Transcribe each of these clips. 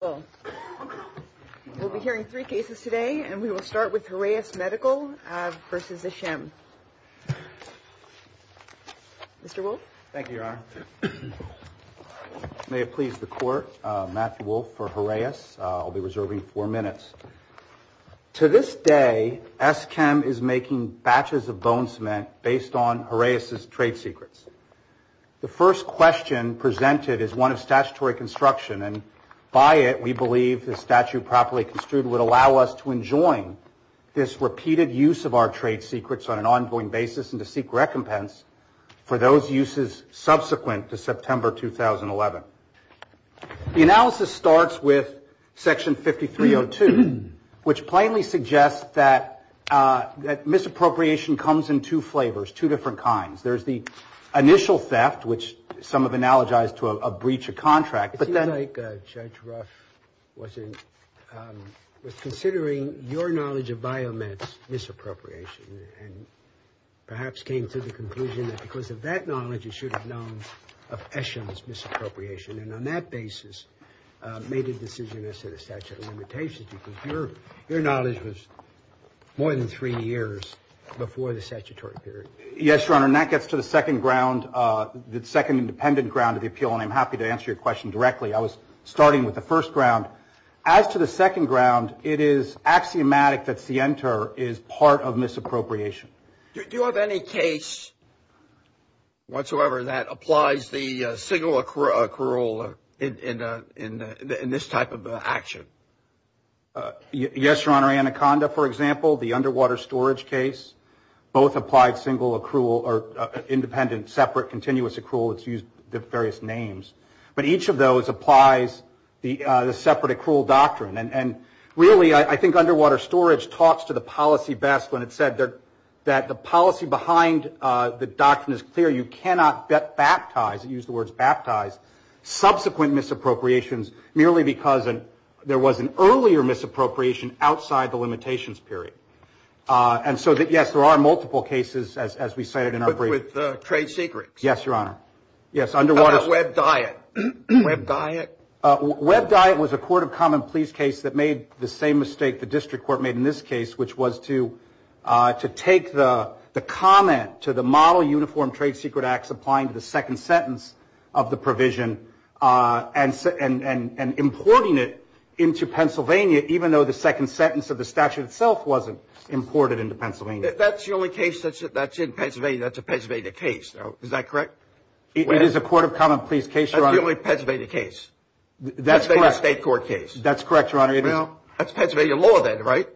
We'll be hearing three cases today, and we will start with Hraeus Medical v. Esschem. Mr. Wolfe? Thank you, Your Honor. May it please the Court, Matthew Wolfe for Hraeus. I'll be reserving four minutes. To this day, Esschem is making batches of bone cement based on Hraeus' trade secrets. The first question presented is one of statutory construction, and by it, we believe the statute properly construed would allow us to enjoin this repeated use of our trade secrets on an ongoing basis and to seek recompense for those uses subsequent to September 2011. The analysis starts with Section 5302, which plainly suggests that misappropriation comes in two flavors, two different kinds. There's the initial theft, which some have analogized to a breach of contract, but then... It seems like Judge Ruff was considering your knowledge of Biomed's misappropriation and perhaps came to the conclusion that because of that knowledge, he should have known of Esschem's misappropriation and on that basis made a decision as to the statute of limitations, because your knowledge was more than three years before the statutory period. Yes, Your Honor, and that gets to the second ground, the second independent ground of the appeal, and I'm happy to answer your question directly. I was starting with the first ground. As to the second ground, it is axiomatic that Sienter is part of misappropriation. Do you have any case whatsoever that applies the single accrual in this type of action? Yes, Your Honor. Mary Anaconda, for example, the underwater storage case, both applied single accrual or independent separate continuous accrual, it's used various names, but each of those applies the separate accrual doctrine, and really I think underwater storage talks to the policy best when it said that the policy behind the doctrine is clear. You cannot baptize, use the words baptize, subsequent misappropriations merely because there was an earlier misappropriation outside the limitations period. And so, yes, there are multiple cases, as we cited in our brief. But with trade secrets? Yes, Your Honor. Yes, underwater storage. How about Webb Diet? Webb Diet? Webb Diet was a court of common pleas case that made the same mistake the district court made in this case, which was to take the comment to the model uniform trade secret acts applying to the second sentence of the provision and importing it into Pennsylvania, even though the second sentence of the statute itself wasn't imported into Pennsylvania. That's the only case that's in Pennsylvania that's a Pennsylvania case, though. Is that correct? It is a court of common pleas case, Your Honor. That's the only Pennsylvania case? That's correct. That's a state court case? That's correct, Your Honor. Well, that's Pennsylvania law then, right?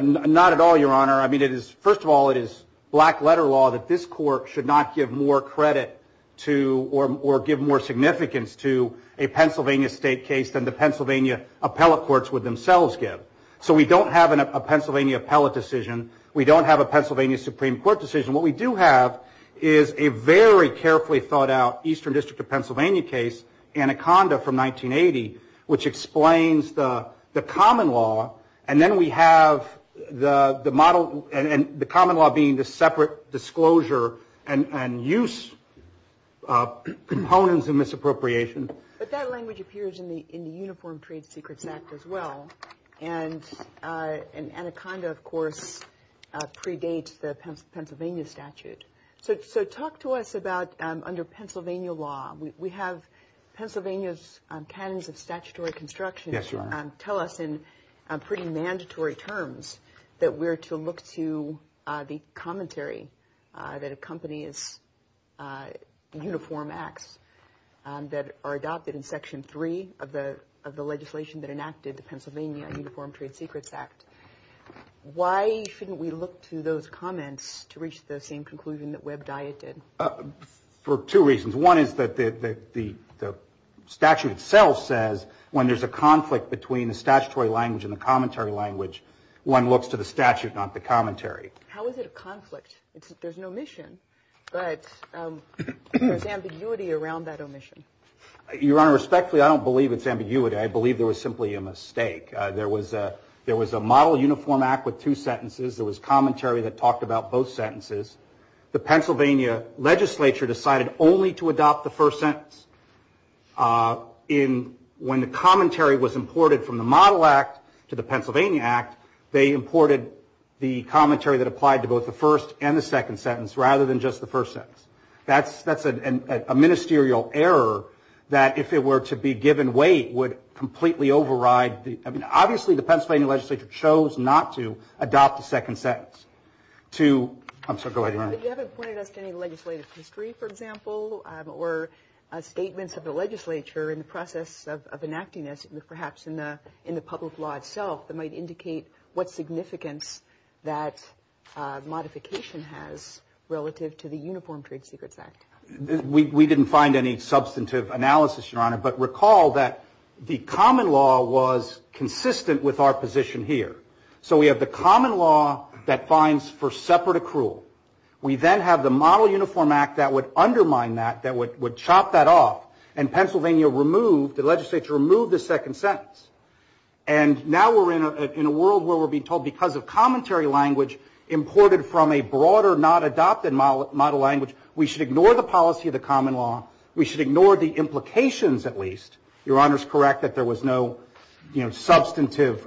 Not at all, Your Honor. I mean, first of all, it is black letter law that this court should not give more credit to or give more significance to a Pennsylvania state case than the Pennsylvania appellate courts would themselves give. So we don't have a Pennsylvania appellate decision. We don't have a Pennsylvania Supreme Court decision. What we do have is a very carefully thought out eastern district of Pennsylvania case, Anaconda from 1980, which explains the common law, and then we have the model and the common law being the separate disclosure and use components of misappropriation. But that language appears in the Uniform Trade Secrets Act as well, and Anaconda, of course, predates the Pennsylvania statute. So talk to us about under Pennsylvania law. We have Pennsylvania's canons of statutory construction. Yes, Your Honor. Tell us in pretty mandatory terms that we're to look to the commentary that accompanies uniform acts that are adopted in Section 3 of the legislation that enacted the Pennsylvania Uniform Trade Secrets Act. Why shouldn't we look to those comments to reach the same conclusion that Webb Dyett did? For two reasons. One is that the statute itself says when there's a conflict between the statutory language and the commentary language, one looks to the statute, not the commentary. How is it a conflict? There's an omission, but there's ambiguity around that omission. Your Honor, respectfully, I don't believe it's ambiguity. I believe there was simply a mistake. There was a model uniform act with two sentences. There was commentary that talked about both sentences. The Pennsylvania legislature decided only to adopt the first sentence. When the commentary was imported from the model act to the Pennsylvania act, they imported the commentary that applied to both the first and the second sentence, rather than just the first sentence. That's a ministerial error that if it were to be given weight would completely override. Obviously, the Pennsylvania legislature chose not to adopt the second sentence. Go ahead, Your Honor. You haven't pointed us to any legislative history, for example, or statements of the legislature in the process of enacting this, perhaps in the public law itself that might indicate what significance that modification has relative to the Uniform Trade Secrets Act. We didn't find any substantive analysis, Your Honor, but recall that the common law was consistent with our position here. So we have the common law that fines for separate accrual. We then have the Model Uniform Act that would undermine that, that would chop that off, and Pennsylvania removed, the legislature removed the second sentence. And now we're in a world where we're being told because of commentary language imported from a broader, not adopted model language, we should ignore the policy of the common law. We should ignore the implications at least. Your Honor is correct that there was no, you know, substantive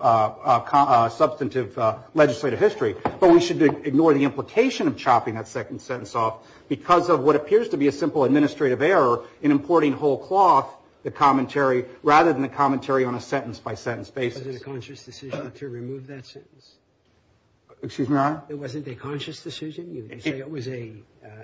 legislative history, but we should ignore the implication of chopping that second sentence off because of what appears to be a simple administrative error in importing whole cloth, the commentary, rather than the commentary on a sentence-by-sentence basis. Was it a conscious decision to remove that sentence? Excuse me, Your Honor? It wasn't a conscious decision? You say it was an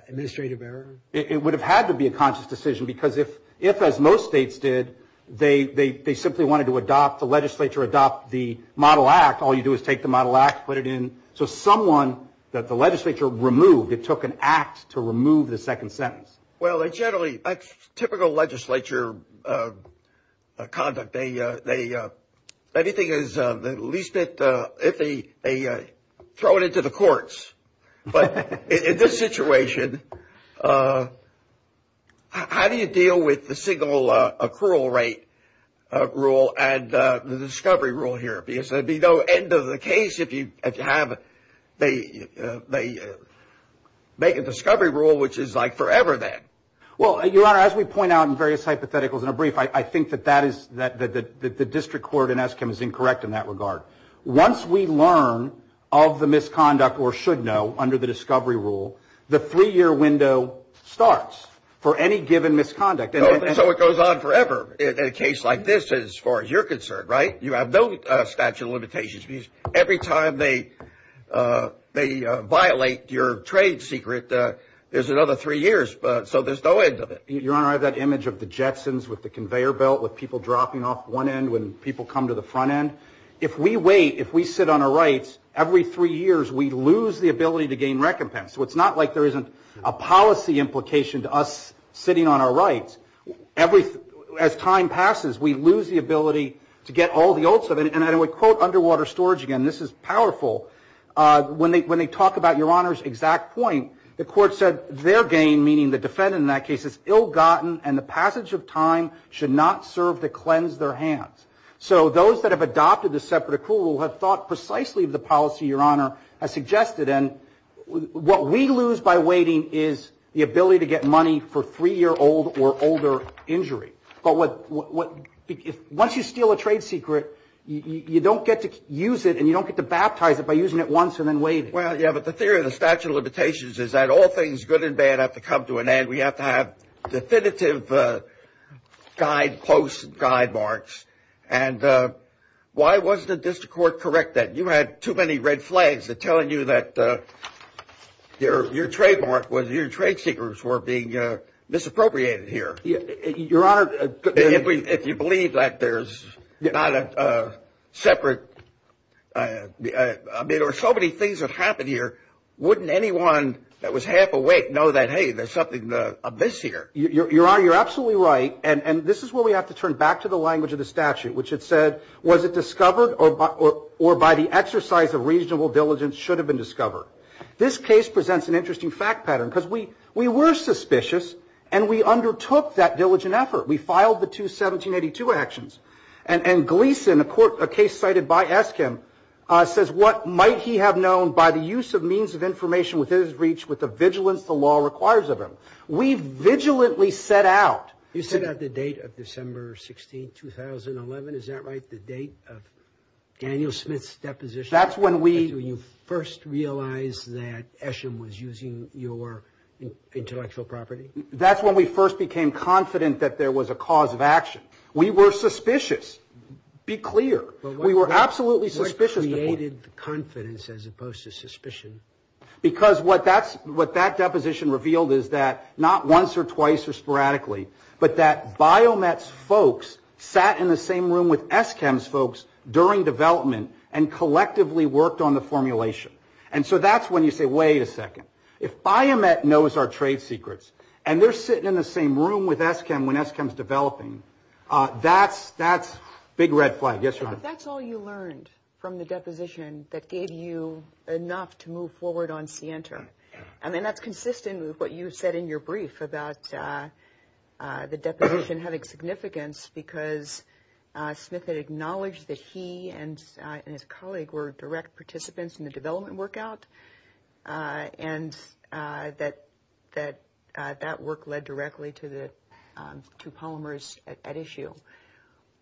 administrative error? It would have had to be a conscious decision because if, as most states did, they simply wanted to adopt the legislature, adopt the Model Act, all you do is take the Model Act, put it in. So someone that the legislature removed, it took an act to remove the second sentence. Well, generally, that's typical legislature conduct. Anything is the least bit iffy, they throw it into the courts. But in this situation, how do you deal with the single accrual rate rule and the discovery rule here? Because there would be no end of the case if you have they make a discovery rule, which is like forever then. Well, Your Honor, as we point out in various hypotheticals in a brief, I think that the district court in Eskim is incorrect in that regard. Once we learn of the misconduct or should know under the discovery rule, the three-year window starts for any given misconduct. So it goes on forever in a case like this as far as you're concerned, right? You have no statute of limitations. Every time they violate your trade secret, there's another three years. So there's no end of it. Your Honor, I have that image of the Jetsons with the conveyor belt, with people dropping off one end when people come to the front end. If we wait, if we sit on our rights, every three years, we lose the ability to gain recompense. So it's not like there isn't a policy implication to us sitting on our rights. As time passes, we lose the ability to get all the oats of it. And I would quote underwater storage again. This is powerful. When they talk about Your Honor's exact point, the court said their gain, meaning the defendant in that case is ill-gotten, and the passage of time should not serve to cleanse their hands. So those that have adopted the separate accrual rule have thought precisely of the policy Your Honor has suggested. And what we lose by waiting is the ability to get money for three-year-old or older injury. But once you steal a trade secret, you don't get to use it, and you don't get to baptize it by using it once and then waiting. Well, yeah, but the theory of the statute of limitations is that all things good and bad have to come to an end. We have to have definitive guideposts and guide marks. And why wasn't the district court correct then? You had too many red flags telling you that your trademark, your trade secrets were being misappropriated here. Your Honor, if you believe that there's not a separate – I mean, there were so many things that happened here. Wouldn't anyone that was half awake know that, hey, there's something amiss here? Your Honor, you're absolutely right, and this is where we have to turn back to the language of the statute, which had said was it discovered or by the exercise of reasonable diligence should have been discovered. This case presents an interesting fact pattern because we were suspicious, and we undertook that diligent effort. We filed the two 1782 actions. And Gleason, a case cited by Eskim, says what might he have known by the use of means of information within his reach with the vigilance the law requires of him. We vigilantly set out. You set out the date of December 16, 2011. Is that right, the date of Daniel Smith's deposition? That's when we – When you first realized that Eskim was using your intellectual property? That's when we first became confident that there was a cause of action. We were suspicious. Be clear. We were absolutely suspicious. What created the confidence as opposed to suspicion? Because what that deposition revealed is that not once or twice or sporadically, but that Biomet's folks sat in the same room with Eskim's folks during development and collectively worked on the formulation. And so that's when you say, wait a second, if Biomet knows our trade secrets and they're sitting in the same room with Eskim when Eskim's developing, that's big red flag. Yes, Your Honor. But that's all you learned from the deposition that gave you enough to move forward on Sienter. I mean, that's consistent with what you said in your brief about the deposition having significance because Smith had acknowledged that he and his colleague were direct participants in the development workout and that that work led directly to the two polymers at issue.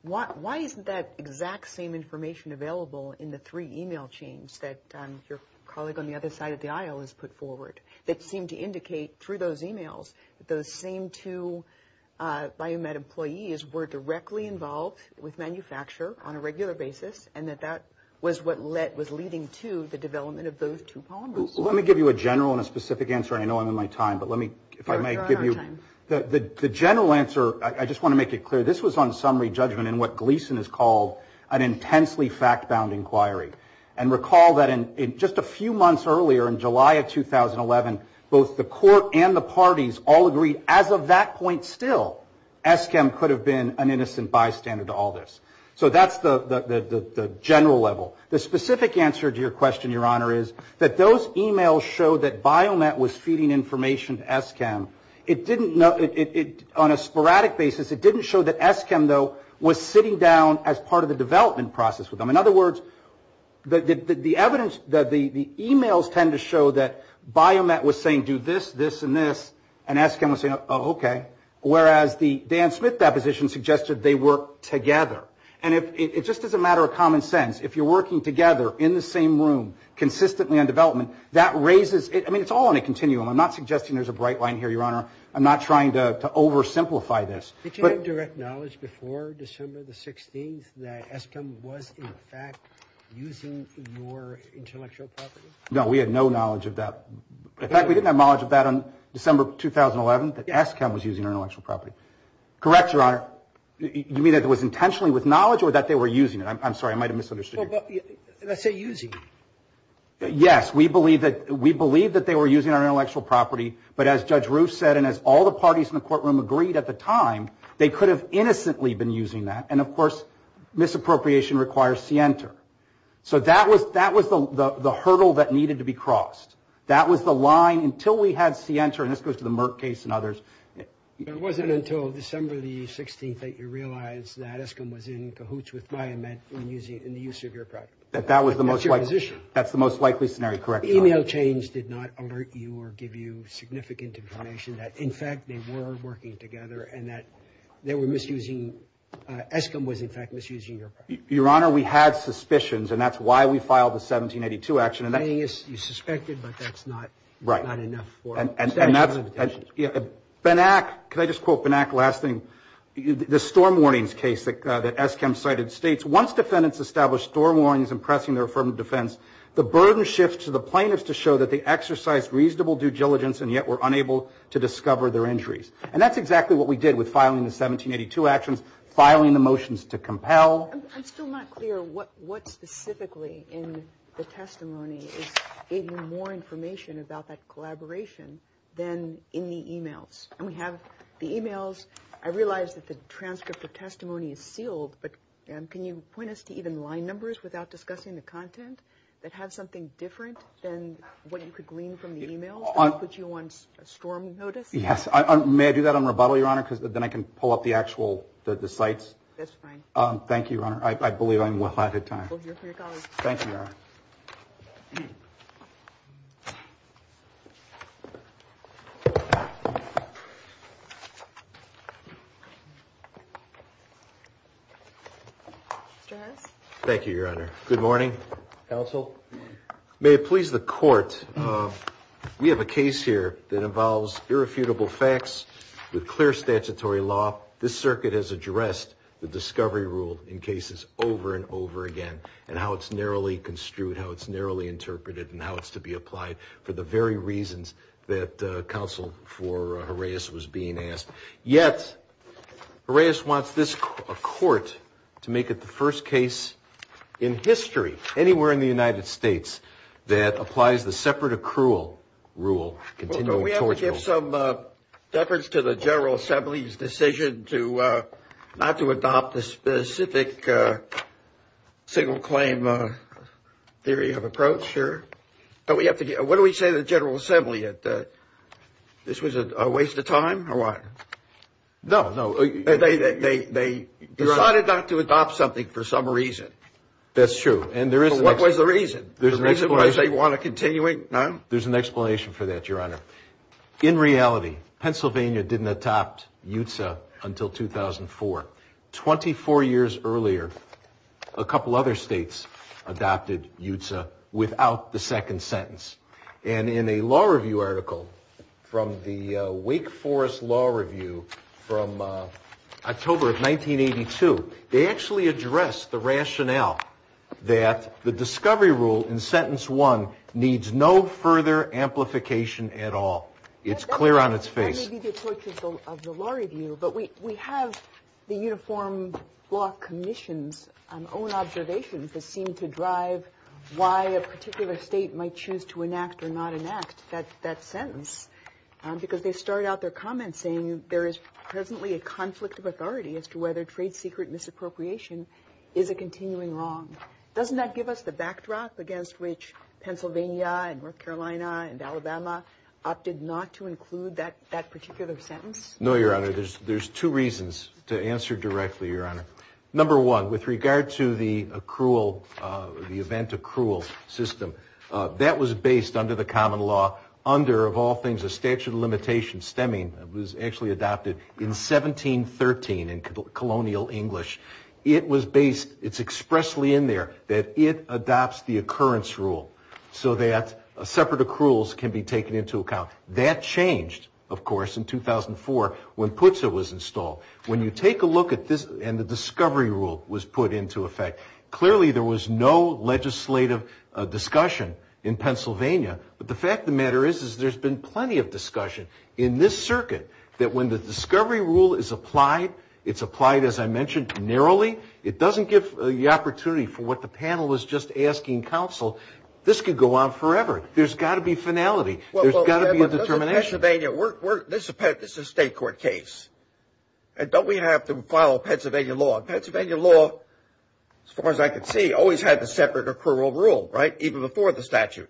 Why isn't that exact same information available in the three e-mail chains that your colleague on the other side of the aisle has put forward that seem to indicate through those e-mails that those same two Biomet employees were directly involved with manufacture on a regular basis and that that was what was leading to the development of those two polymers? Let me give you a general and a specific answer. I know I'm in my time, but let me, if I may give you the general answer. I just want to make it clear. This was on summary judgment in what Gleason has called an intensely fact-bound inquiry. And recall that in just a few months earlier, in July of 2011, both the court and the parties all agreed as of that point still, Eskim could have been an innocent bystander to all this. So that's the general level. The specific answer to your question, Your Honor, is that those e-mails show that Biomet was feeding information to Eskim. It didn't, on a sporadic basis, it didn't show that Eskim, though, was sitting down as part of the development process with them. In other words, the evidence, the e-mails tend to show that Biomet was saying do this, this, and this, and Eskim was saying, oh, okay. Whereas the Dan Smith deposition suggested they worked together. And it just doesn't matter of common sense. If you're working together in the same room consistently on development, that raises, I mean, it's all in a continuum. I'm not suggesting there's a bright line here, Your Honor. I'm not trying to oversimplify this. Did you have direct knowledge before December the 16th that Eskim was in fact using your intellectual property? No, we had no knowledge of that. In fact, we didn't have knowledge of that on December 2011 that Eskim was using our intellectual property. Correct, Your Honor. You mean that it was intentionally with knowledge or that they were using it? I'm sorry. I might have misunderstood you. I say using. Yes. We believe that they were using our intellectual property. But as Judge Roof said, and as all the parties in the courtroom agreed at the time, they could have innocently been using that. And, of course, misappropriation requires scienter. So that was the hurdle that needed to be crossed. That was the line until we had scienter. And this goes to the Merck case and others. It wasn't until December the 16th that you realized that Eskim was in cahoots with Miamet in the use of your property. That that was the most likely. That's your position. That's the most likely scenario. Correct. Email chains did not alert you or give you significant information that, in fact, they were working together and that they were misusing, Eskim was, in fact, misusing your property. Your Honor, we had suspicions, and that's why we filed the 1782 action. You suspected, but that's not enough for us. Benack, can I just quote Benack last thing? The storm warnings case that Eskim cited states, once defendants established storm warnings in pressing their affirmative defense, the burden shifts to the plaintiffs to show that they exercised reasonable due diligence and yet were unable to discover their injuries. And that's exactly what we did with filing the 1782 actions, filing the motions to compel. I'm still not clear what specifically in the testimony is giving more information about that collaboration than in the emails. And we have the emails. I realize that the transcript of testimony is sealed, but can you point us to even line numbers without discussing the content that have something different than what you could glean from the emails that put you on storm notice? May I do that on rebuttal, Your Honor, because then I can pull up the actual sites? That's fine. Thank you, Your Honor. I believe I'm well ahead of time. Thank you, Your Honor. Mr. Harris? Thank you, Your Honor. Good morning, counsel. May it please the Court, we have a case here that involves irrefutable facts with clear statutory law. This circuit has addressed the discovery rule in cases over and over again and how it's narrowly construed, how it's narrowly interpreted, and how it's to be applied for the very reasons that counsel for Harais was being asked. Yet, Harais wants this court to make it the first case in history, anywhere in the United States, that applies the separate accrual rule. Well, don't we have to give some deference to the General Assembly's decision to not to adopt the specific single claim theory of approach here? What do we say to the General Assembly? This was a waste of time or what? No, no. They decided not to adopt something for some reason. That's true. What was the reason? The reason was they want to continue it? There's an explanation for that, Your Honor. In reality, Pennsylvania didn't adopt UTA until 2004. Twenty-four years earlier, a couple other states adopted UTA without the second sentence. And in a law review article from the Wake Forest Law Review from October of 1982, they actually addressed the rationale that the discovery rule in sentence one needs no further amplification at all. It's clear on its face. That may be the approach of the law review, but we have the Uniform Law Commission's own observations that seem to drive why a particular state might choose to enact or not enact that sentence, because they start out their comments saying there is presently a conflict of authority as to whether trade secret misappropriation is a continuing wrong. Doesn't that give us the backdrop against which Pennsylvania and North Carolina and Alabama opted not to include that particular sentence? No, Your Honor. There's two reasons to answer directly, Your Honor. Number one, with regard to the accrual, the event accrual system, that was based under the common law under, of all things, a statute of limitations stemming, was actually adopted in 1713 in colonial English. It was based, it's expressly in there, that it adopts the occurrence rule so that separate accruals can be taken into account. That changed, of course, in 2004 when PUTSA was installed. When you take a look at this, and the discovery rule was put into effect, clearly there was no legislative discussion in Pennsylvania. But the fact of the matter is, is there's been plenty of discussion in this circuit that when the discovery rule is applied, it's applied, as I mentioned, narrowly. It doesn't give the opportunity for what the panel was just asking counsel. This could go on forever. There's got to be finality. There's got to be a determination. This is a state court case. Don't we have to follow Pennsylvania law? Pennsylvania law, as far as I can see, always had the separate accrual rule, right, even before the statute.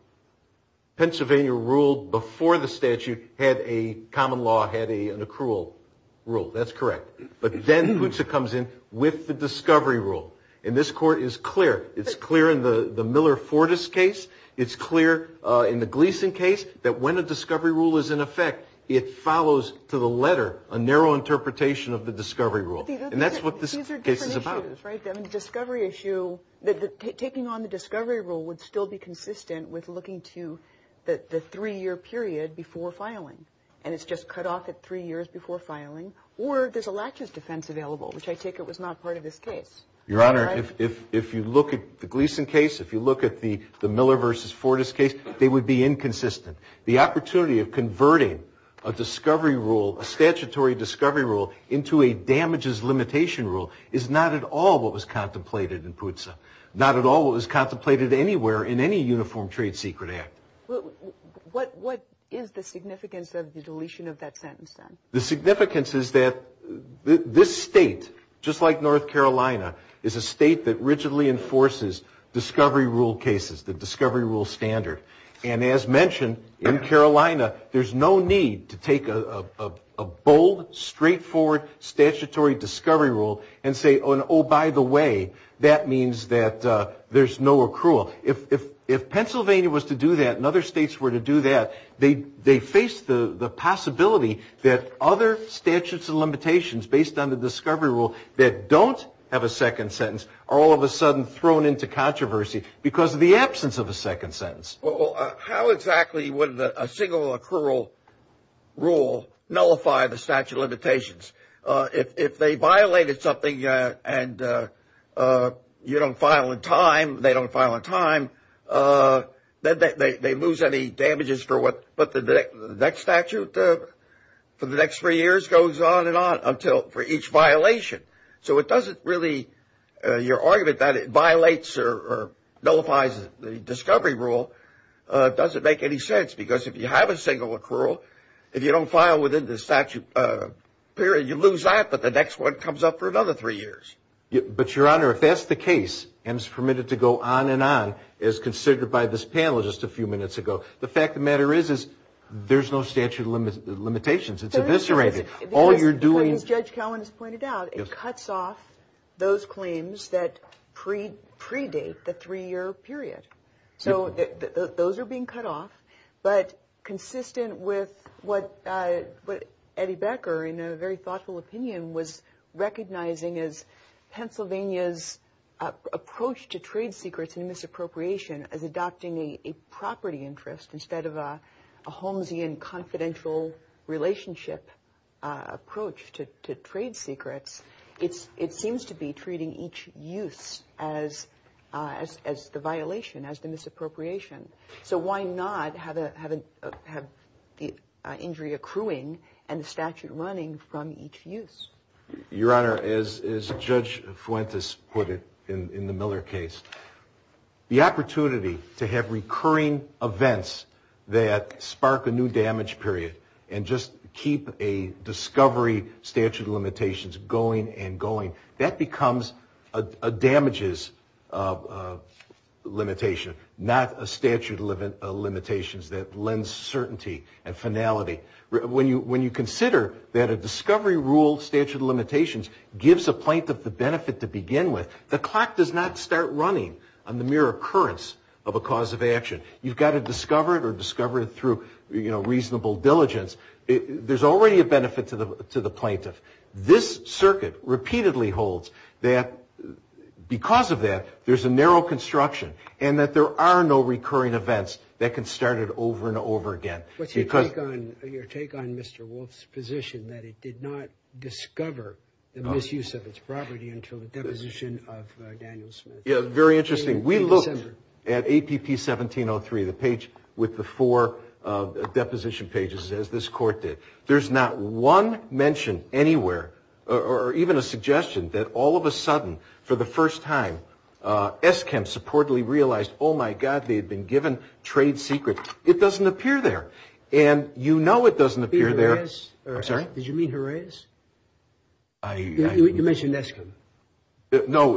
Pennsylvania rule before the statute had a common law, had an accrual rule. That's correct. But then PUTSA comes in with the discovery rule. And this court is clear. It's clear in the Miller-Fordes case. It's clear in the Gleason case that when a discovery rule is in effect, it follows to the letter a narrow interpretation of the discovery rule. And that's what this case is about. Right. The discovery issue, taking on the discovery rule would still be consistent with looking to the three-year period before filing. And it's just cut off at three years before filing. Or there's a laches defense available, which I take it was not part of this case. Your Honor, if you look at the Gleason case, if you look at the Miller versus Fordes case, they would be inconsistent. The opportunity of converting a discovery rule, a statutory discovery rule, into a damages limitation rule is not at all what was contemplated in PUTSA, not at all what was contemplated anywhere in any uniform trade secret act. What is the significance of the deletion of that sentence, then? The significance is that this state, just like North Carolina, is a state that rigidly enforces discovery rule cases, the discovery rule standard. And as mentioned, in Carolina, there's no need to take a bold, straightforward statutory discovery rule and say, oh, by the way, that means that there's no accrual. If Pennsylvania was to do that and other states were to do that, they face the possibility that other statutes and limitations based on the discovery rule that don't have a second sentence are all of a sudden thrown into controversy because of the absence of a second sentence. Well, how exactly would a single accrual rule nullify the statute of limitations? If they violated something and you don't file in time, they don't file in time, then they lose any damages for what the next statute for the next three years goes on and on, for each violation. So it doesn't really – your argument that it violates or nullifies the discovery rule doesn't make any sense because if you have a single accrual, if you don't file within the statute period, you lose that but the next one comes up for another three years. But, Your Honor, if that's the case and it's permitted to go on and on, as considered by this panel just a few minutes ago, the fact of the matter is there's no statute of limitations. It's eviscerated. Because, as Judge Cowen has pointed out, it cuts off those claims that predate the three-year period. So those are being cut off but consistent with what Eddie Becker, in a very thoughtful opinion, was recognizing as Pennsylvania's approach to trade secrets and misappropriation as adopting a property interest instead of a Holmesian confidential relationship approach to trade secrets, it seems to be treating each use as the violation, as the misappropriation. So why not have the injury accruing and the statute running from each use? Your Honor, as Judge Fuentes put it in the Miller case, the opportunity to have recurring events that spark a new damage period and just keep a discovery statute of limitations going and going, that becomes a damages limitation, not a statute of limitations that lends certainty and finality. When you consider that a discovery rule statute of limitations gives a plaintiff the benefit to begin with, the clock does not start running on the mere occurrence of a cause of action. You've got to discover it or discover it through, you know, reasonable diligence. There's already a benefit to the plaintiff. This circuit repeatedly holds that because of that, there's a narrow construction and that there are no recurring events that can start it over and over again. What's your take on Mr. Wolfe's position that it did not discover the misuse of its property until the deposition of Daniel Smith in December? Yeah, very interesting. We looked at APP 1703, the page with the four deposition pages, as this court did. There's not one mention anywhere or even a suggestion that all of a sudden, for the first time, ESKEMS reportedly realized, oh, my God, they had been given trade secrets. It doesn't appear there. And you know it doesn't appear there. I'm sorry? Did you mean Horaeus? You mentioned ESKEMS. No,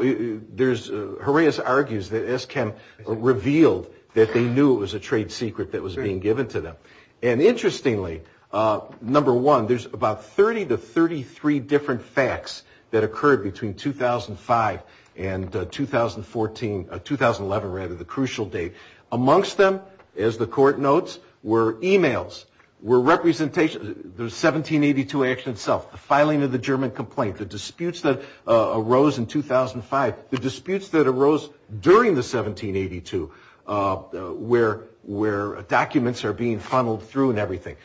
Horaeus argues that ESKEMS revealed that they knew it was a trade secret that was being given to them. And interestingly, number one, there's about 30 to 33 different facts that occurred between 2005 and 2011, rather the crucial date. Amongst them, as the court notes, were e-mails, were representation, the 1782 action itself, the filing of the German complaint, the disputes that arose in 2005, the disputes that arose during the 1782 where documents are being funneled through and everything.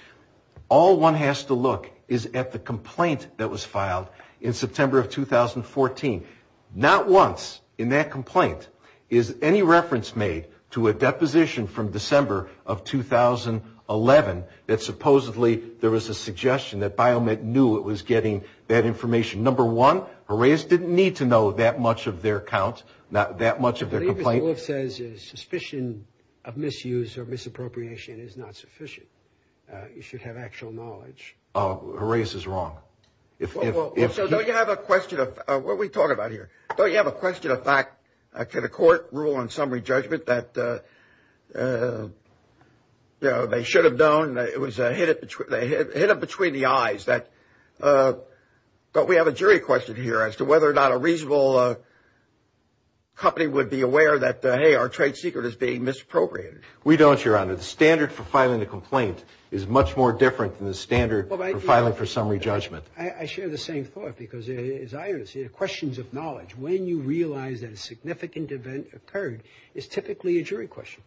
All one has to look is at the complaint that was filed in September of 2014. Not once in that complaint is any reference made to a deposition from December of 2011 that supposedly there was a suggestion that BioMed knew it was getting that information. Number one, Horaeus didn't need to know that much of their account, that much of their complaint. I believe Mr. Wolf says suspicion of misuse or misappropriation is not sufficient. You should have actual knowledge. Horaeus is wrong. So don't you have a question of what we talk about here? Don't you have a question of fact? Can a court rule on summary judgment that they should have known? It was hidden between the eyes. But we have a jury question here as to whether or not a reasonable company would be aware that, hey, our trade secret is being misappropriated. We don't, Your Honor. The standard for filing a complaint is much more different than the standard for filing for summary judgment. I share the same thought because, as I understand it, questions of knowledge, when you realize that a significant event occurred, is typically a jury question.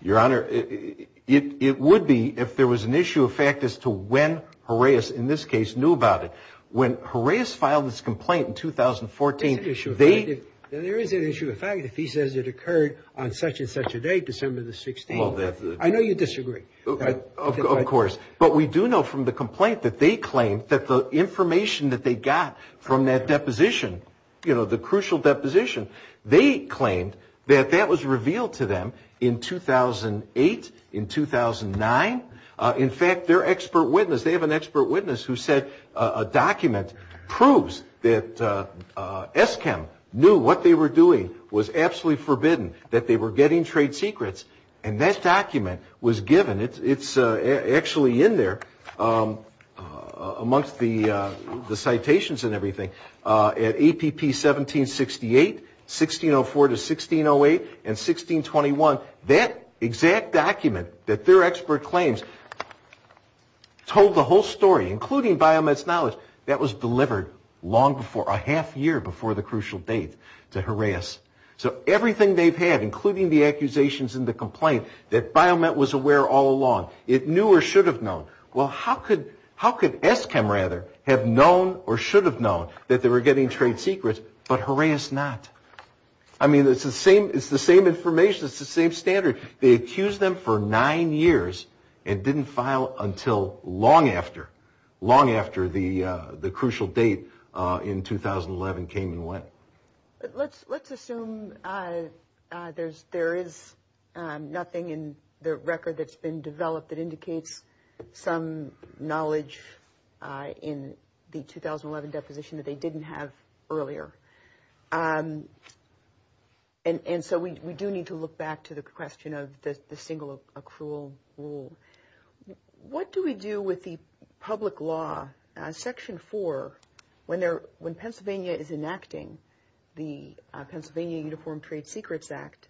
Your Honor, it would be if there was an issue of fact as to when Horaeus, in this case, knew about it. When Horaeus filed his complaint in 2014, they – Then there is an issue of fact if he says it occurred on such and such a date, December the 16th. I know you disagree. Of course. But we do know from the complaint that they claim that the information that they got from that deposition, you know, the crucial deposition, they claimed that that was revealed to them in 2008, in 2009. In fact, their expert witness, they have an expert witness who said a document proves that Eskam knew what they were doing was absolutely forbidden, that they were getting trade secrets, and that document was given. It's actually in there amongst the citations and everything. At APP 1768, 1604 to 1608, and 1621, that exact document that their expert claims told the whole story, including BioMed's knowledge, that was delivered a half year before the crucial date to Horaeus. So everything they've had, including the accusations in the complaint that BioMed was aware all along, it knew or should have known. Well, how could Eskam, rather, have known or should have known that they were getting trade secrets, but Horaeus not? I mean, it's the same information. It's the same standard. They accused them for nine years and didn't file until long after, long after the crucial date in 2011 came and went. Let's assume there is nothing in the record that's been developed that indicates some knowledge in the 2011 deposition that they didn't have earlier. And so we do need to look back to the question of the single accrual rule. What do we do with the public law? Section 4, when Pennsylvania is enacting the Pennsylvania Uniform Trade Secrets Act,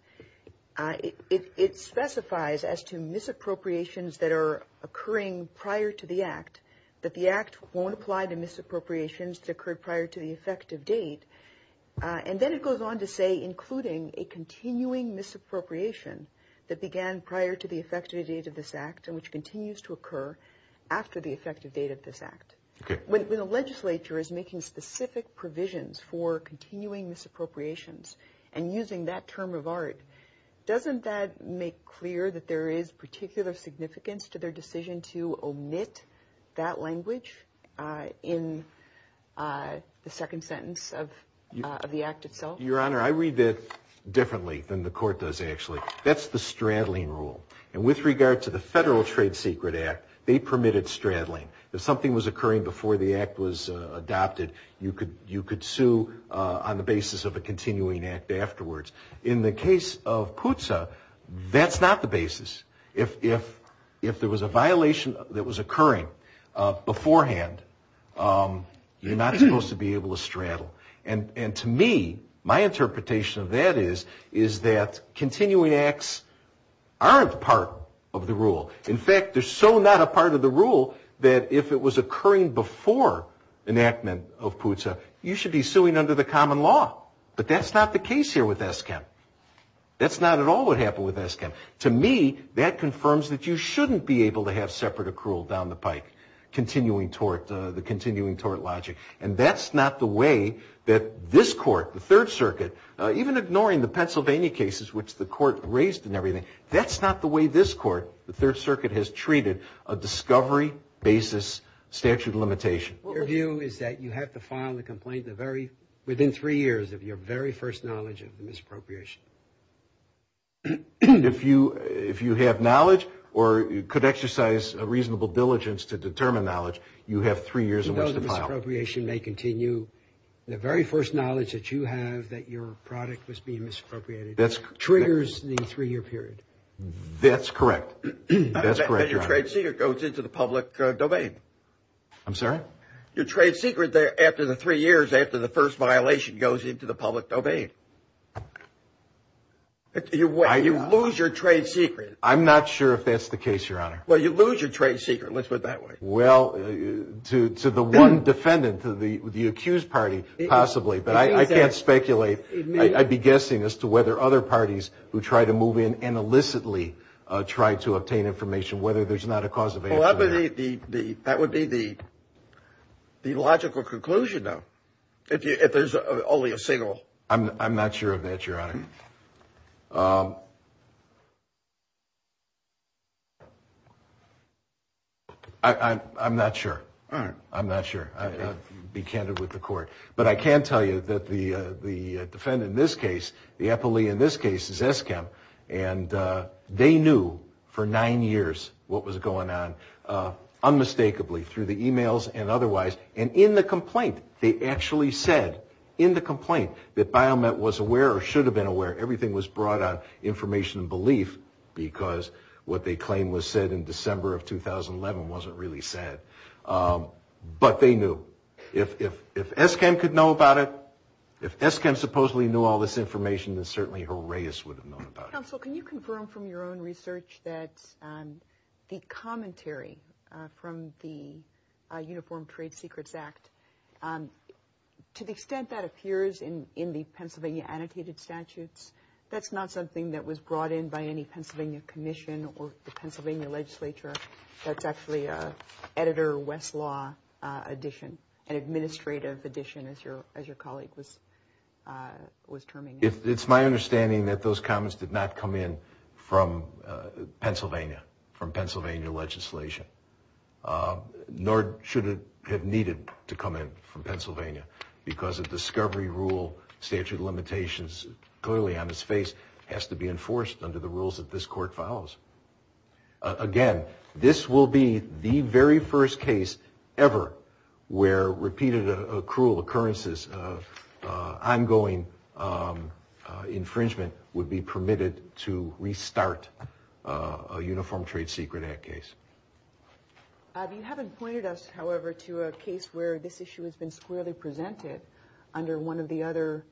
it specifies as to misappropriations that are occurring prior to the act, that the act won't apply to misappropriations that occurred prior to the effective date. And then it goes on to say, including a continuing misappropriation that began prior to the effective date of this act and which continues to occur after the effective date of this act. When the legislature is making specific provisions for continuing misappropriations and using that term of art, doesn't that make clear that there is particular significance to their decision to omit that language in the second sentence of the act itself? Your Honor, I read that differently than the court does, actually. That's the straddling rule. And with regard to the Federal Trade Secret Act, they permitted straddling. If something was occurring before the act was adopted, you could sue on the basis of a continuing act afterwards. In the case of PUTSA, that's not the basis. If there was a violation that was occurring beforehand, you're not supposed to be able to straddle. And to me, my interpretation of that is, is that continuing acts aren't part of the rule. In fact, they're so not a part of the rule that if it was occurring before enactment of PUTSA, you should be suing under the common law. But that's not the case here with ESCAP. That's not at all what happened with ESCAP. To me, that confirms that you shouldn't be able to have separate accrual down the pike, the continuing tort logic. And that's not the way that this Court, the Third Circuit, even ignoring the Pennsylvania cases, which the Court raised and everything, that's not the way this Court, the Third Circuit, has treated a discovery basis statute of limitation. Your view is that you have to file a complaint within three years of your very first knowledge of the misappropriation. If you have knowledge or could exercise a reasonable diligence to determine knowledge, you have three years in which to file. You know the misappropriation may continue. The very first knowledge that you have that your product was being misappropriated triggers the three-year period. That's correct. And your trade secret goes into the public domain. I'm sorry? Your trade secret there after the three years after the first violation goes into the public domain. You lose your trade secret. I'm not sure if that's the case, Your Honor. Well, you lose your trade secret. Let's put it that way. Well, to the one defendant, to the accused party, possibly. But I can't speculate. I'd be guessing as to whether other parties who try to move in and illicitly try to obtain information, whether there's not a cause of action there. That would be the logical conclusion, though, if there's only a single. I'm not sure of that, Your Honor. I'm not sure. I'm not sure. Be candid with the Court. But I can tell you that the defendant in this case, the epilee in this case, is Eskim. And they knew for nine years what was going on, unmistakably, through the e-mails and otherwise. And in the complaint, they actually said, in the complaint, that Biomet was aware or should have been aware. Everything was brought on information and belief because what they claimed was said in December of 2011 wasn't really said. But they knew. So if Eskim could know about it, if Eskim supposedly knew all this information, then certainly Horaeus would have known about it. Counsel, can you confirm from your own research that the commentary from the Uniform Trade Secrets Act, to the extent that appears in the Pennsylvania annotated statutes, that's not something that was brought in by any Pennsylvania commission or the Pennsylvania legislature. That's actually an Editor Westlaw addition, an administrative addition, as your colleague was terming it. It's my understanding that those comments did not come in from Pennsylvania, from Pennsylvania legislation. Nor should it have needed to come in from Pennsylvania because the discovery rule statute limitations, clearly on its face, has to be enforced under the rules that this Court follows. Again, this will be the very first case ever where repeated cruel occurrences of ongoing infringement would be permitted to restart a Uniform Trade Secret Act case. You haven't pointed us, however, to a case where this issue has been squarely presented under one of the other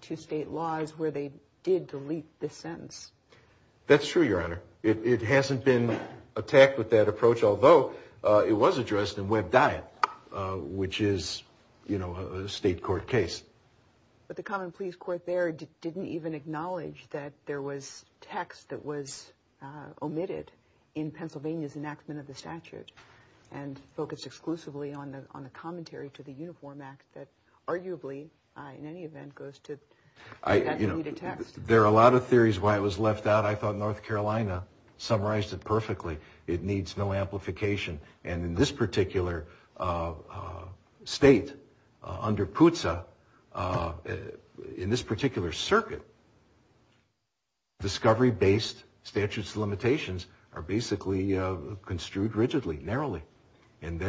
two state laws where they did delete this sentence. That's true, Your Honor. It hasn't been attacked with that approach, although it was addressed in Webb Diet, which is, you know, a state court case. But the Common Pleas Court there didn't even acknowledge that there was text that was omitted in Pennsylvania's enactment of the statute and focused exclusively on the commentary to the Uniform Act that arguably, in any event, goes to delete a text. There are a lot of theories why it was left out. I thought North Carolina summarized it perfectly. It needs no amplification. And in this particular state, under PUTSA, in this particular circuit, discovery-based statute's limitations are basically construed rigidly, narrowly. And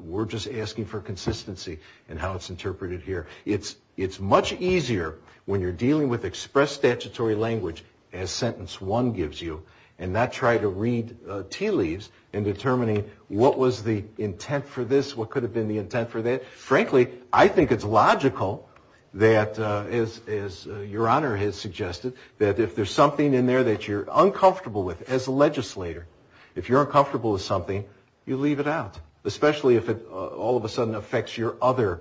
we're just asking for consistency in how it's interpreted here. It's much easier when you're dealing with expressed statutory language, as Sentence 1 gives you, and not try to read tea leaves in determining what was the intent for this, what could have been the intent for that. Frankly, I think it's logical that, as Your Honor has suggested, that if there's something in there that you're uncomfortable with as a legislator, if you're uncomfortable with something, you leave it out. Especially if it all of a sudden affects your other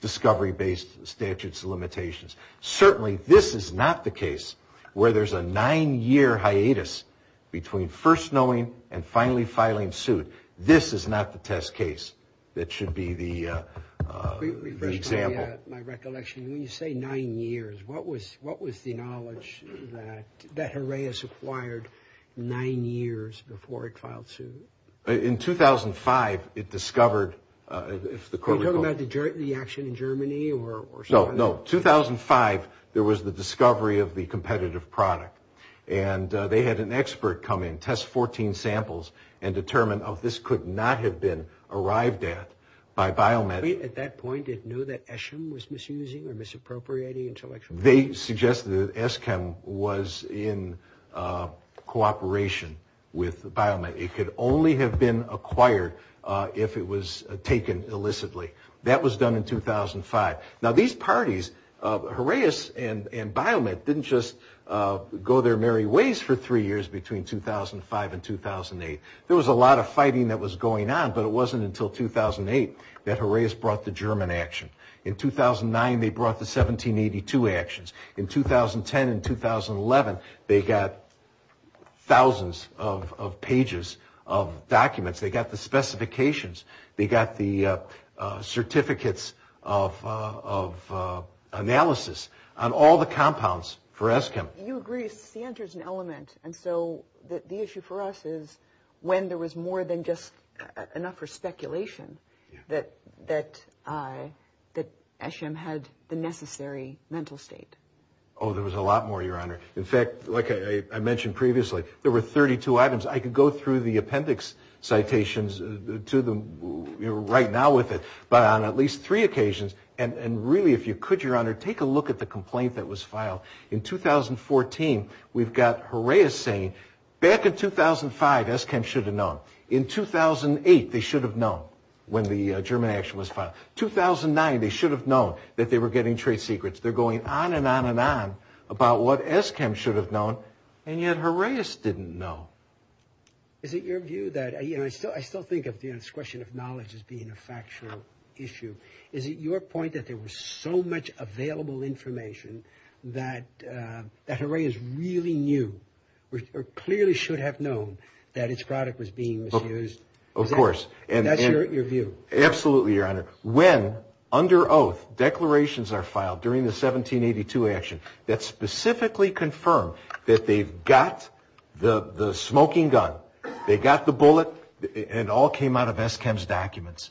discovery-based statute's limitations. Certainly, this is not the case where there's a nine-year hiatus between first knowing and finally filing suit. This is not the test case that should be the example. My recollection, when you say nine years, what was the knowledge that Herreus acquired nine years before it filed suit? In 2005, it discovered... Are you talking about the action in Germany? No, no. 2005, there was the discovery of the competitive product. And they had an expert come in, test 14 samples, and determine, oh, this could not have been arrived at by Biomed. At that point, it knew that Eschem was misusing or misappropriating intellectual property. They suggested that Eschem was in cooperation with Biomed. It could only have been acquired if it was taken illicitly. That was done in 2005. Now, these parties, Herreus and Biomed, didn't just go their merry ways for three years between 2005 and 2008. There was a lot of fighting that was going on, but it wasn't until 2008 that Herreus brought the German action. In 2009, they brought the 1782 actions. In 2010 and 2011, they got thousands of pages of documents. They got the specifications. They got the certificates of analysis on all the compounds for Eschem. You agree. And so the issue for us is when there was more than just enough for speculation that Eschem had the necessary mental state. Oh, there was a lot more, Your Honor. In fact, like I mentioned previously, there were 32 items. I could go through the appendix citations to them right now with it, but on at least three occasions. And really, if you could, Your Honor, take a look at the complaint that was filed. In 2014, we've got Herreus saying, back in 2005, Eschem should have known. In 2008, they should have known when the German action was filed. 2009, they should have known that they were getting trade secrets. They're going on and on and on about what Eschem should have known, and yet Herreus didn't know. Is it your view that, you know, I still think of this question of knowledge as being a factual issue. Is it your point that there was so much available information that Herreus really knew or clearly should have known that its product was being misused? Of course. That's your view. Absolutely, Your Honor. When, under oath, declarations are filed during the 1782 action that specifically confirm that they've got the smoking gun, they got the bullet, and it all came out of Eschem's documents.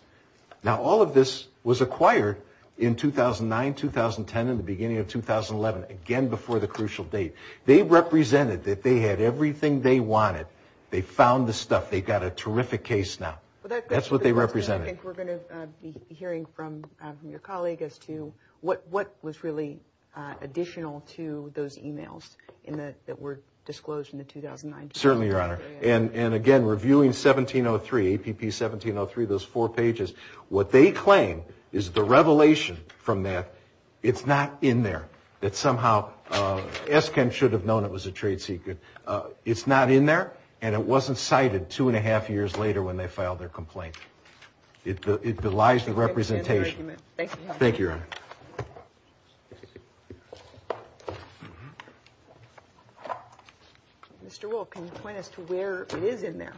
Now, all of this was acquired in 2009, 2010, and the beginning of 2011, again, before the crucial date. They represented that they had everything they wanted. They found the stuff. They've got a terrific case now. That's what they represented. I think we're going to be hearing from your colleague as to what was really additional to those emails that were disclosed in the 2009 case. Certainly, Your Honor. And, again, reviewing 1703, APP 1703, those four pages, what they claim is the revelation from that it's not in there, that somehow Eschem should have known it was a trade secret. It's not in there, and it wasn't cited two and a half years later when they filed their complaint. It belies the representation. Thank you, Your Honor. Counsel, can you point us to where it is in there?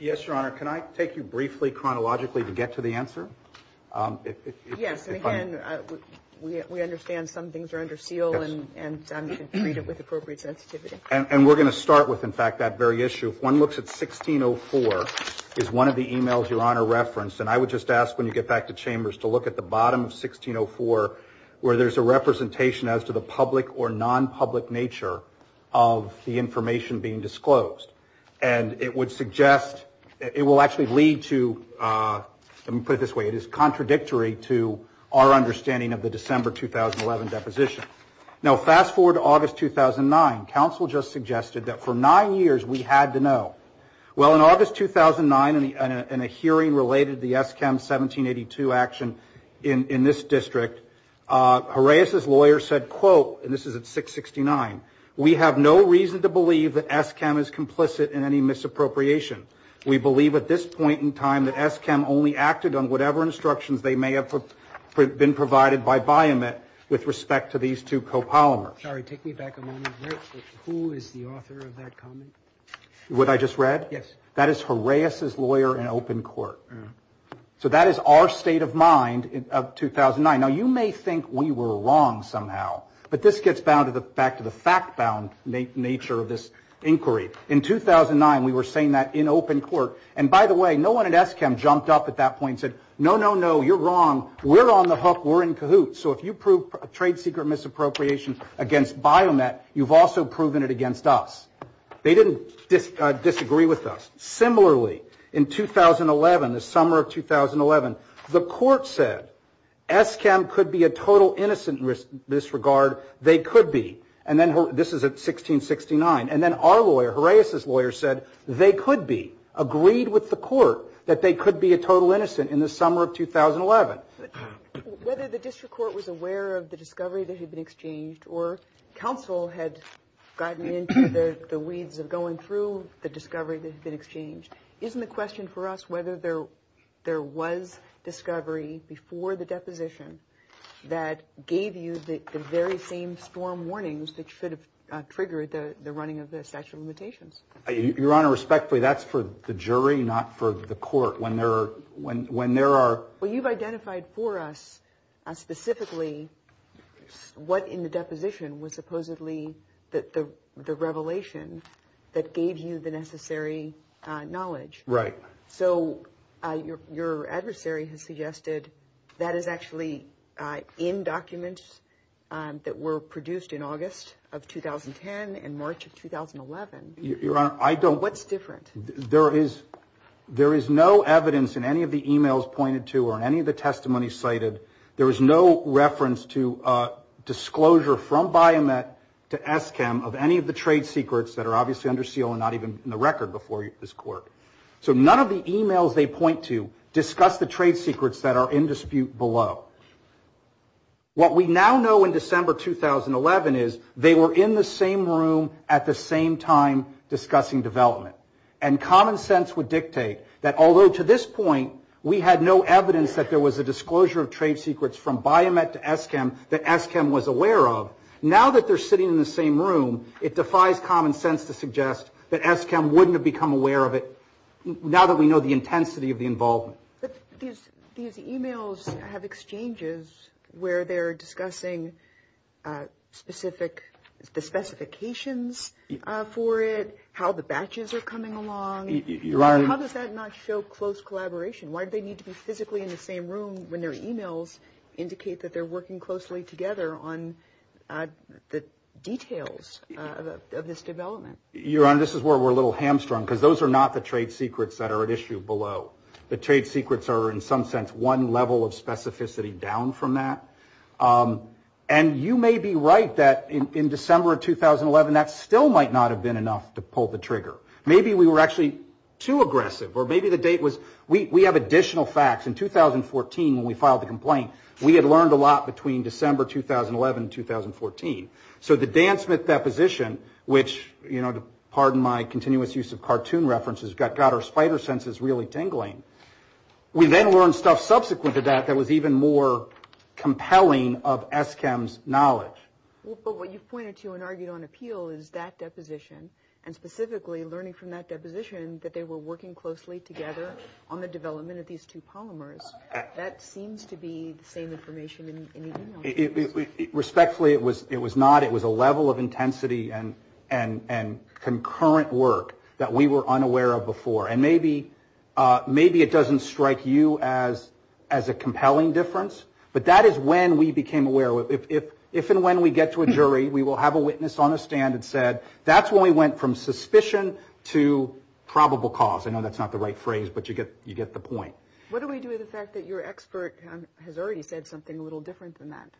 Yes, Your Honor. Can I take you briefly, chronologically, to get to the answer? Yes. And, again, we understand some things are under seal and you can treat it with appropriate sensitivity. And we're going to start with, in fact, that very issue. If one looks at 1604, it's one of the emails Your Honor referenced, and I would just ask when you get back to Chambers to look at the bottom of 1604 where there's a representation as to the public or non-public nature of the information being disclosed. And it would suggest, it will actually lead to, let me put it this way, it is contradictory to our understanding of the December 2011 deposition. Now, fast forward to August 2009. Counsel just suggested that for nine years we had to know. Well, in August 2009, in a hearing related to the ESSCAM 1782 action in this district, Horaeus's lawyer said, quote, and this is at 669, we have no reason to believe that ESSCAM is complicit in any misappropriation. We believe at this point in time that ESSCAM only acted on whatever instructions they may have been provided by Biomet with respect to these two copolymers. Sorry, take me back a moment. Who is the author of that comment? What I just read? Yes. That is Horaeus's lawyer in open court. So that is our state of mind of 2009. Now, you may think we were wrong somehow, but this gets back to the fact-bound nature of this inquiry. In 2009, we were saying that in open court. And by the way, no one at ESSCAM jumped up at that point and said, no, no, no, you're wrong. We're on the hook. We're in cahoots. So if you prove trade secret misappropriation against Biomet, you've also proven it against us. They didn't disagree with us. Similarly, in 2011, the summer of 2011, the court said ESSCAM could be a total innocent in this regard. They could be. And then this is at 1669. And then our lawyer, Horaeus's lawyer, said they could be, agreed with the court that they could be a total innocent in the summer of 2011. Whether the district court was aware of the discovery that had been exchanged, or counsel had gotten into the weeds of going through the discovery that had been exchanged, isn't the question for us whether there was discovery before the deposition that gave you the very same storm warnings that should have triggered the running of the statute of limitations? Your Honor, respectfully, that's for the jury, not for the court. Well, you've identified for us specifically what in the deposition was supposedly the revelation that gave you the necessary knowledge. Right. So your adversary has suggested that is actually in documents that were produced in August of 2010 and March of 2011. Your Honor, I don't. What's different? There is no evidence in any of the e-mails pointed to or in any of the testimonies cited, there is no reference to disclosure from Biomet to Eskam of any of the trade secrets that are obviously under seal and not even in the record before this court. So none of the e-mails they point to discuss the trade secrets that are in dispute below. What we now know in December 2011 is they were in the same room at the same time discussing development. And common sense would dictate that although to this point we had no evidence that there was a disclosure of trade secrets from Biomet to Eskam that Eskam was aware of, now that they're sitting in the same room, it defies common sense to suggest that Eskam wouldn't have become aware of it now that we know the intensity of the involvement. But these e-mails have exchanges where they're discussing the specifications for it, how the batches are coming along. Your Honor. How does that not show close collaboration? Why do they need to be physically in the same room when their e-mails indicate that they're working closely together on the details of this development? Your Honor, this is where we're a little hamstrung because those are not the trade secrets that are at issue below. The trade secrets are in some sense one level of specificity down from that. And you may be right that in December 2011 that still might not have been enough to pull the trigger. Maybe we were actually too aggressive or maybe the date was we have additional facts. In 2014 when we filed the complaint, we had learned a lot between December 2011 and 2014. So the Dan Smith deposition, which, you know, to pardon my continuous use of cartoon references, got our spider senses really tingling. We then learned stuff subsequent to that that was even more compelling of Eskam's knowledge. But what you've pointed to and argued on appeal is that deposition and specifically learning from that deposition that they were working closely together on the development of these two polymers. Respectfully, it was not. It was a level of intensity and concurrent work that we were unaware of before. And maybe it doesn't strike you as a compelling difference, but that is when we became aware. If and when we get to a jury, we will have a witness on a stand that said, that's when we went from suspicion to probable cause. I know that's not the right phrase, but you get the point. What do we do with the fact that your expert has already said something a little different than that?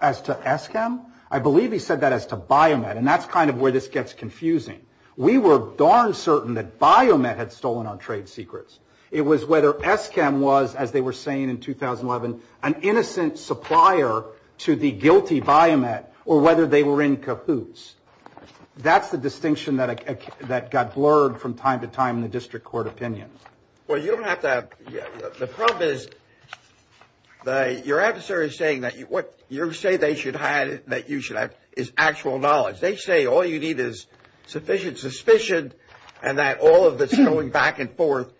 As to Eskam? I believe he said that as to Biomet, and that's kind of where this gets confusing. We were darn certain that Biomet had stolen our trade secrets. It was whether Eskam was, as they were saying in 2011, an innocent supplier to the guilty Biomet, or whether they were in cahoots. That's the distinction that got blurred from time to time in the district court opinion. Well, you don't have to have – the problem is your adversary is saying that what you say they should have, that you should have, is actual knowledge. They say all you need is sufficient suspicion and that all of this going back and forth,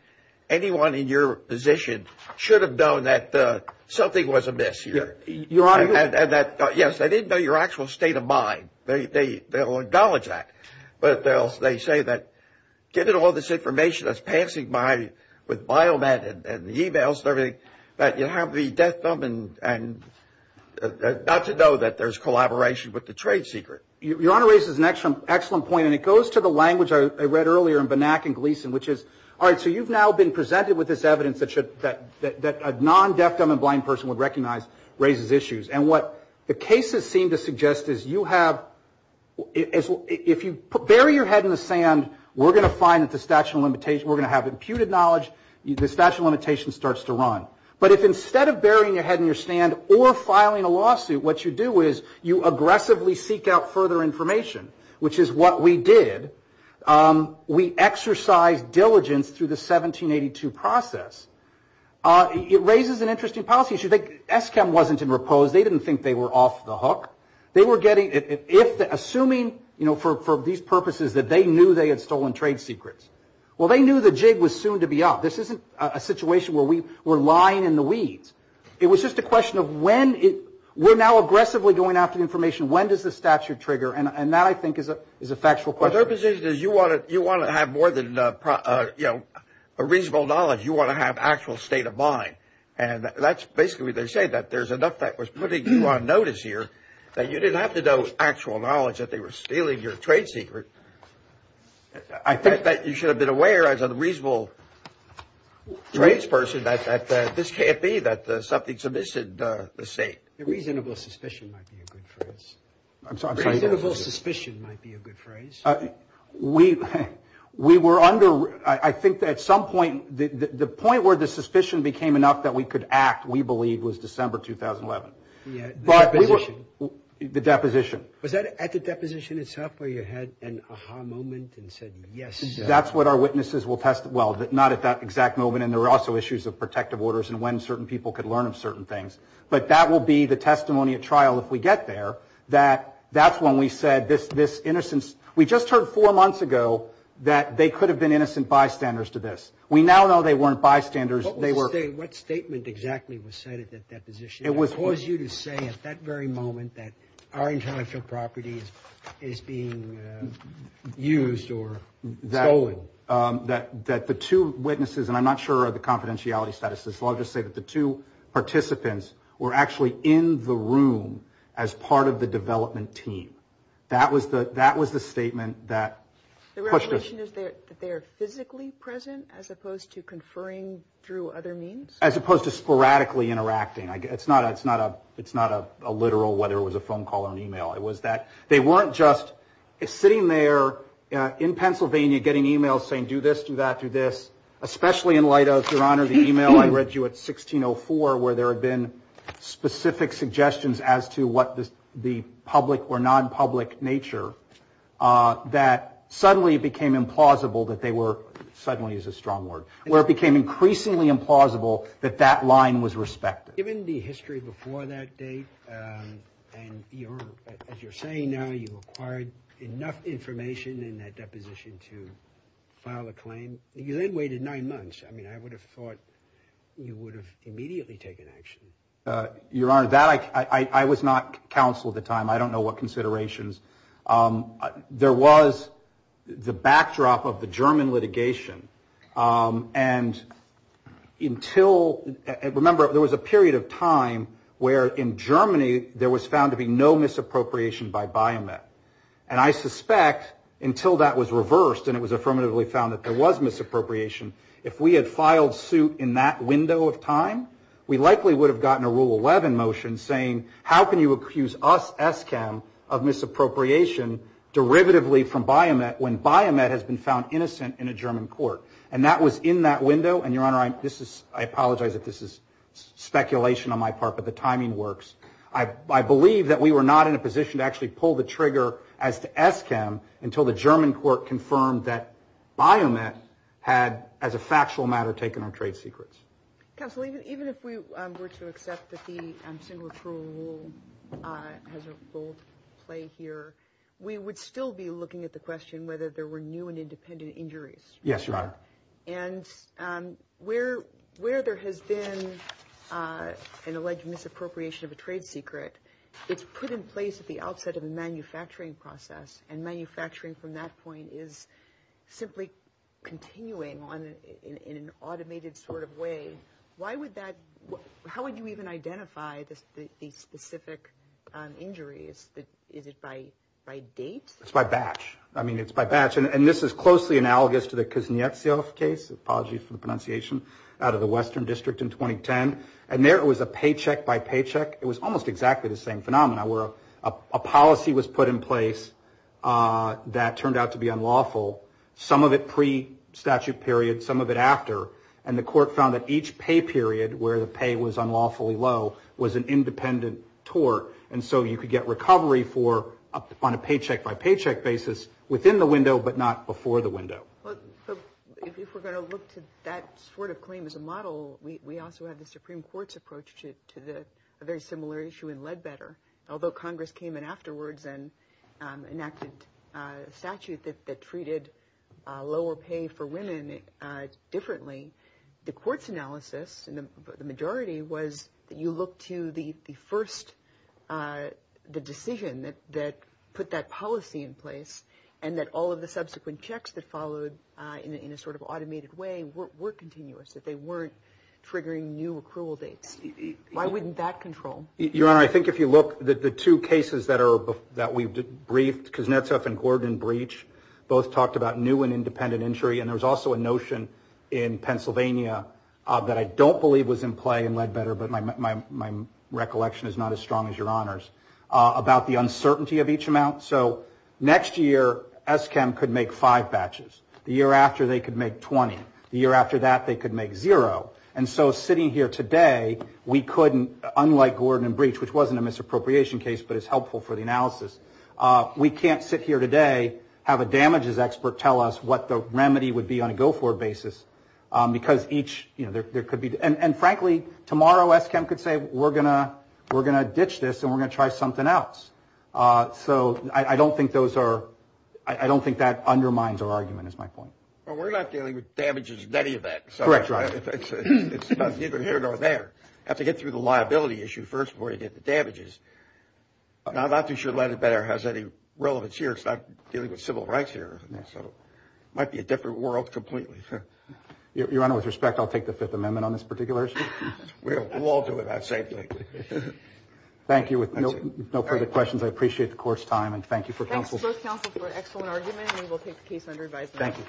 anyone in your position should have known that something was amiss. Your Honor. Yes, they didn't know your actual state of mind. They will acknowledge that. But they say that given all this information that's passing by with Biomet and the e-mails and everything, that you have the deaf-dumb and not to know that there's collaboration with the trade secret. Your Honor raises an excellent point, and it goes to the language I read earlier in Banach and Gleason, which is, all right, so you've now been presented with this evidence that a non-deaf-dumb and blind person would recognize raises issues. And what the cases seem to suggest is you have – if you bury your head in the sand, we're going to find that the statute of limitations – we're going to have imputed knowledge. The statute of limitations starts to run. But if instead of burying your head in your stand or filing a lawsuit, what you do is you aggressively seek out further information, which is what we did. We exercised diligence through the 1782 process. It raises an interesting policy issue. Eskam wasn't in repose. They didn't think they were off the hook. They were getting – assuming, you know, for these purposes that they knew they had stolen trade secrets. Well, they knew the jig was soon to be up. This isn't a situation where we were lying in the weeds. It was just a question of when – we're now aggressively going after information. When does the statute trigger? And that, I think, is a factual question. Well, their position is you want to have more than, you know, a reasonable knowledge. You want to have actual state of mind. And that's basically what they say, that there's enough that was putting you on notice here, that you didn't have to know actual knowledge that they were stealing your trade secret. I think that you should have been aware, as a reasonable tradesperson, that this can't be, that something's amiss in the state. A reasonable suspicion might be a good phrase. I'm sorry? A reasonable suspicion might be a good phrase. We were under – I think that at some point, the point where the suspicion became enough that we could act, we believe, was December 2011. Yeah, the deposition. The deposition. Was that at the deposition itself where you had an aha moment and said, yes? That's what our witnesses will – well, not at that exact moment. And there were also issues of protective orders and when certain people could learn of certain things. But that will be the testimony at trial if we get there, that that's when we said this innocence – we just heard four months ago that they could have been innocent bystanders to this. We now know they weren't bystanders. What statement exactly was cited at that position? It was – I oppose you to say at that very moment that our intellectual property is being used or stolen. That the two witnesses, and I'm not sure of the confidentiality status, so I'll just say that the two participants were actually in the room as part of the development team. That was the statement that pushed us. The revelation is that they are physically present as opposed to conferring through other means? As opposed to sporadically interacting. It's not a literal – whether it was a phone call or an email. It was that they weren't just sitting there in Pennsylvania getting emails saying, do this, do that, do this. Especially in light of, Your Honor, the email I read you at 1604 where there had been specific suggestions as to what the public or non-public nature that suddenly became implausible that they were – suddenly is a strong word – where it became increasingly implausible that that line was respected. Given the history before that date, and as you're saying now, you acquired enough information in that deposition to file a claim. You then waited nine months. I mean, I would have thought you would have immediately taken action. Your Honor, that – I was not counsel at the time. I don't know what considerations. There was the backdrop of the German litigation, and until – remember, there was a period of time where in Germany there was found to be no misappropriation by Biomet. And I suspect until that was reversed and it was affirmatively found that there was misappropriation, if we had filed suit in that window of time, we likely would have gotten a Rule 11 motion saying, how can you accuse us, ESCAM, of misappropriation derivatively from Biomet when Biomet has been found innocent in a German court? And that was in that window, and Your Honor, I apologize if this is speculation on my part, but the timing works. I believe that we were not in a position to actually pull the trigger as to ESCAM until the German court confirmed that Biomet had, as a factual matter, taken our trade secrets. Counsel, even if we were to accept that the single approval has a role to play here, we would still be looking at the question whether there were new and independent injuries. Yes, Your Honor. And where there has been an alleged misappropriation of a trade secret, it's put in place at the outset of the manufacturing process, and manufacturing from that point is simply continuing in an automated sort of way. How would you even identify the specific injuries? Is it by date? It's by batch. I mean, it's by batch. And this is closely analogous to the Kuznetsov case. Apologies for the pronunciation. Out of the Western District in 2010. And there it was a paycheck by paycheck. It was almost exactly the same phenomenon, where a policy was put in place that turned out to be unlawful, some of it pre-statute period, some of it after, and the court found that each pay period where the pay was unlawfully low was an independent tort, and so you could get recovery on a paycheck by paycheck basis within the window, but not before the window. If we're going to look to that sort of claim as a model, we also have the Supreme Court's approach to a very similar issue in Ledbetter. Although Congress came in afterwards and enacted a statute that treated lower pay for women differently, the court's analysis in the majority was that you look to the first decision that put that policy in place and that all of the subsequent checks that followed in a sort of automated way were continuous, that they weren't triggering new accrual dates. Why wouldn't that control? Your Honor, I think if you look, the two cases that we've briefed, Kuznetsov and Gordon Breach, both talked about new and independent injury, and there was also a notion in Pennsylvania that I don't believe was in play in Ledbetter, but my recollection is not as strong as Your Honor's, about the uncertainty of each amount. So next year, ESCAM could make five batches. The year after, they could make 20. The year after that, they could make zero. And so sitting here today, we couldn't, unlike Gordon and Breach, which wasn't a misappropriation case but is helpful for the analysis, we can't sit here today, have a damages expert tell us what the remedy would be on a go-forward basis, because each, you know, there could be, and frankly, tomorrow ESCAM could say, we're going to ditch this and we're going to try something else. So I don't think those are, I don't think that undermines our argument is my point. Well, we're not dealing with damages in any of that. Correct, Your Honor. It's neither here nor there. You have to get through the liability issue first before you get the damages. I'm not too sure Landon-Better has any relevance here. It's not dealing with civil rights here. So it might be a different world completely. Your Honor, with respect, I'll take the Fifth Amendment on this particular issue. We'll all do it that same thing. Thank you. With no further questions, I appreciate the court's time, and thank you for counsel. Thanks both counsel for an excellent argument, and we will take the case under revised. Thank you.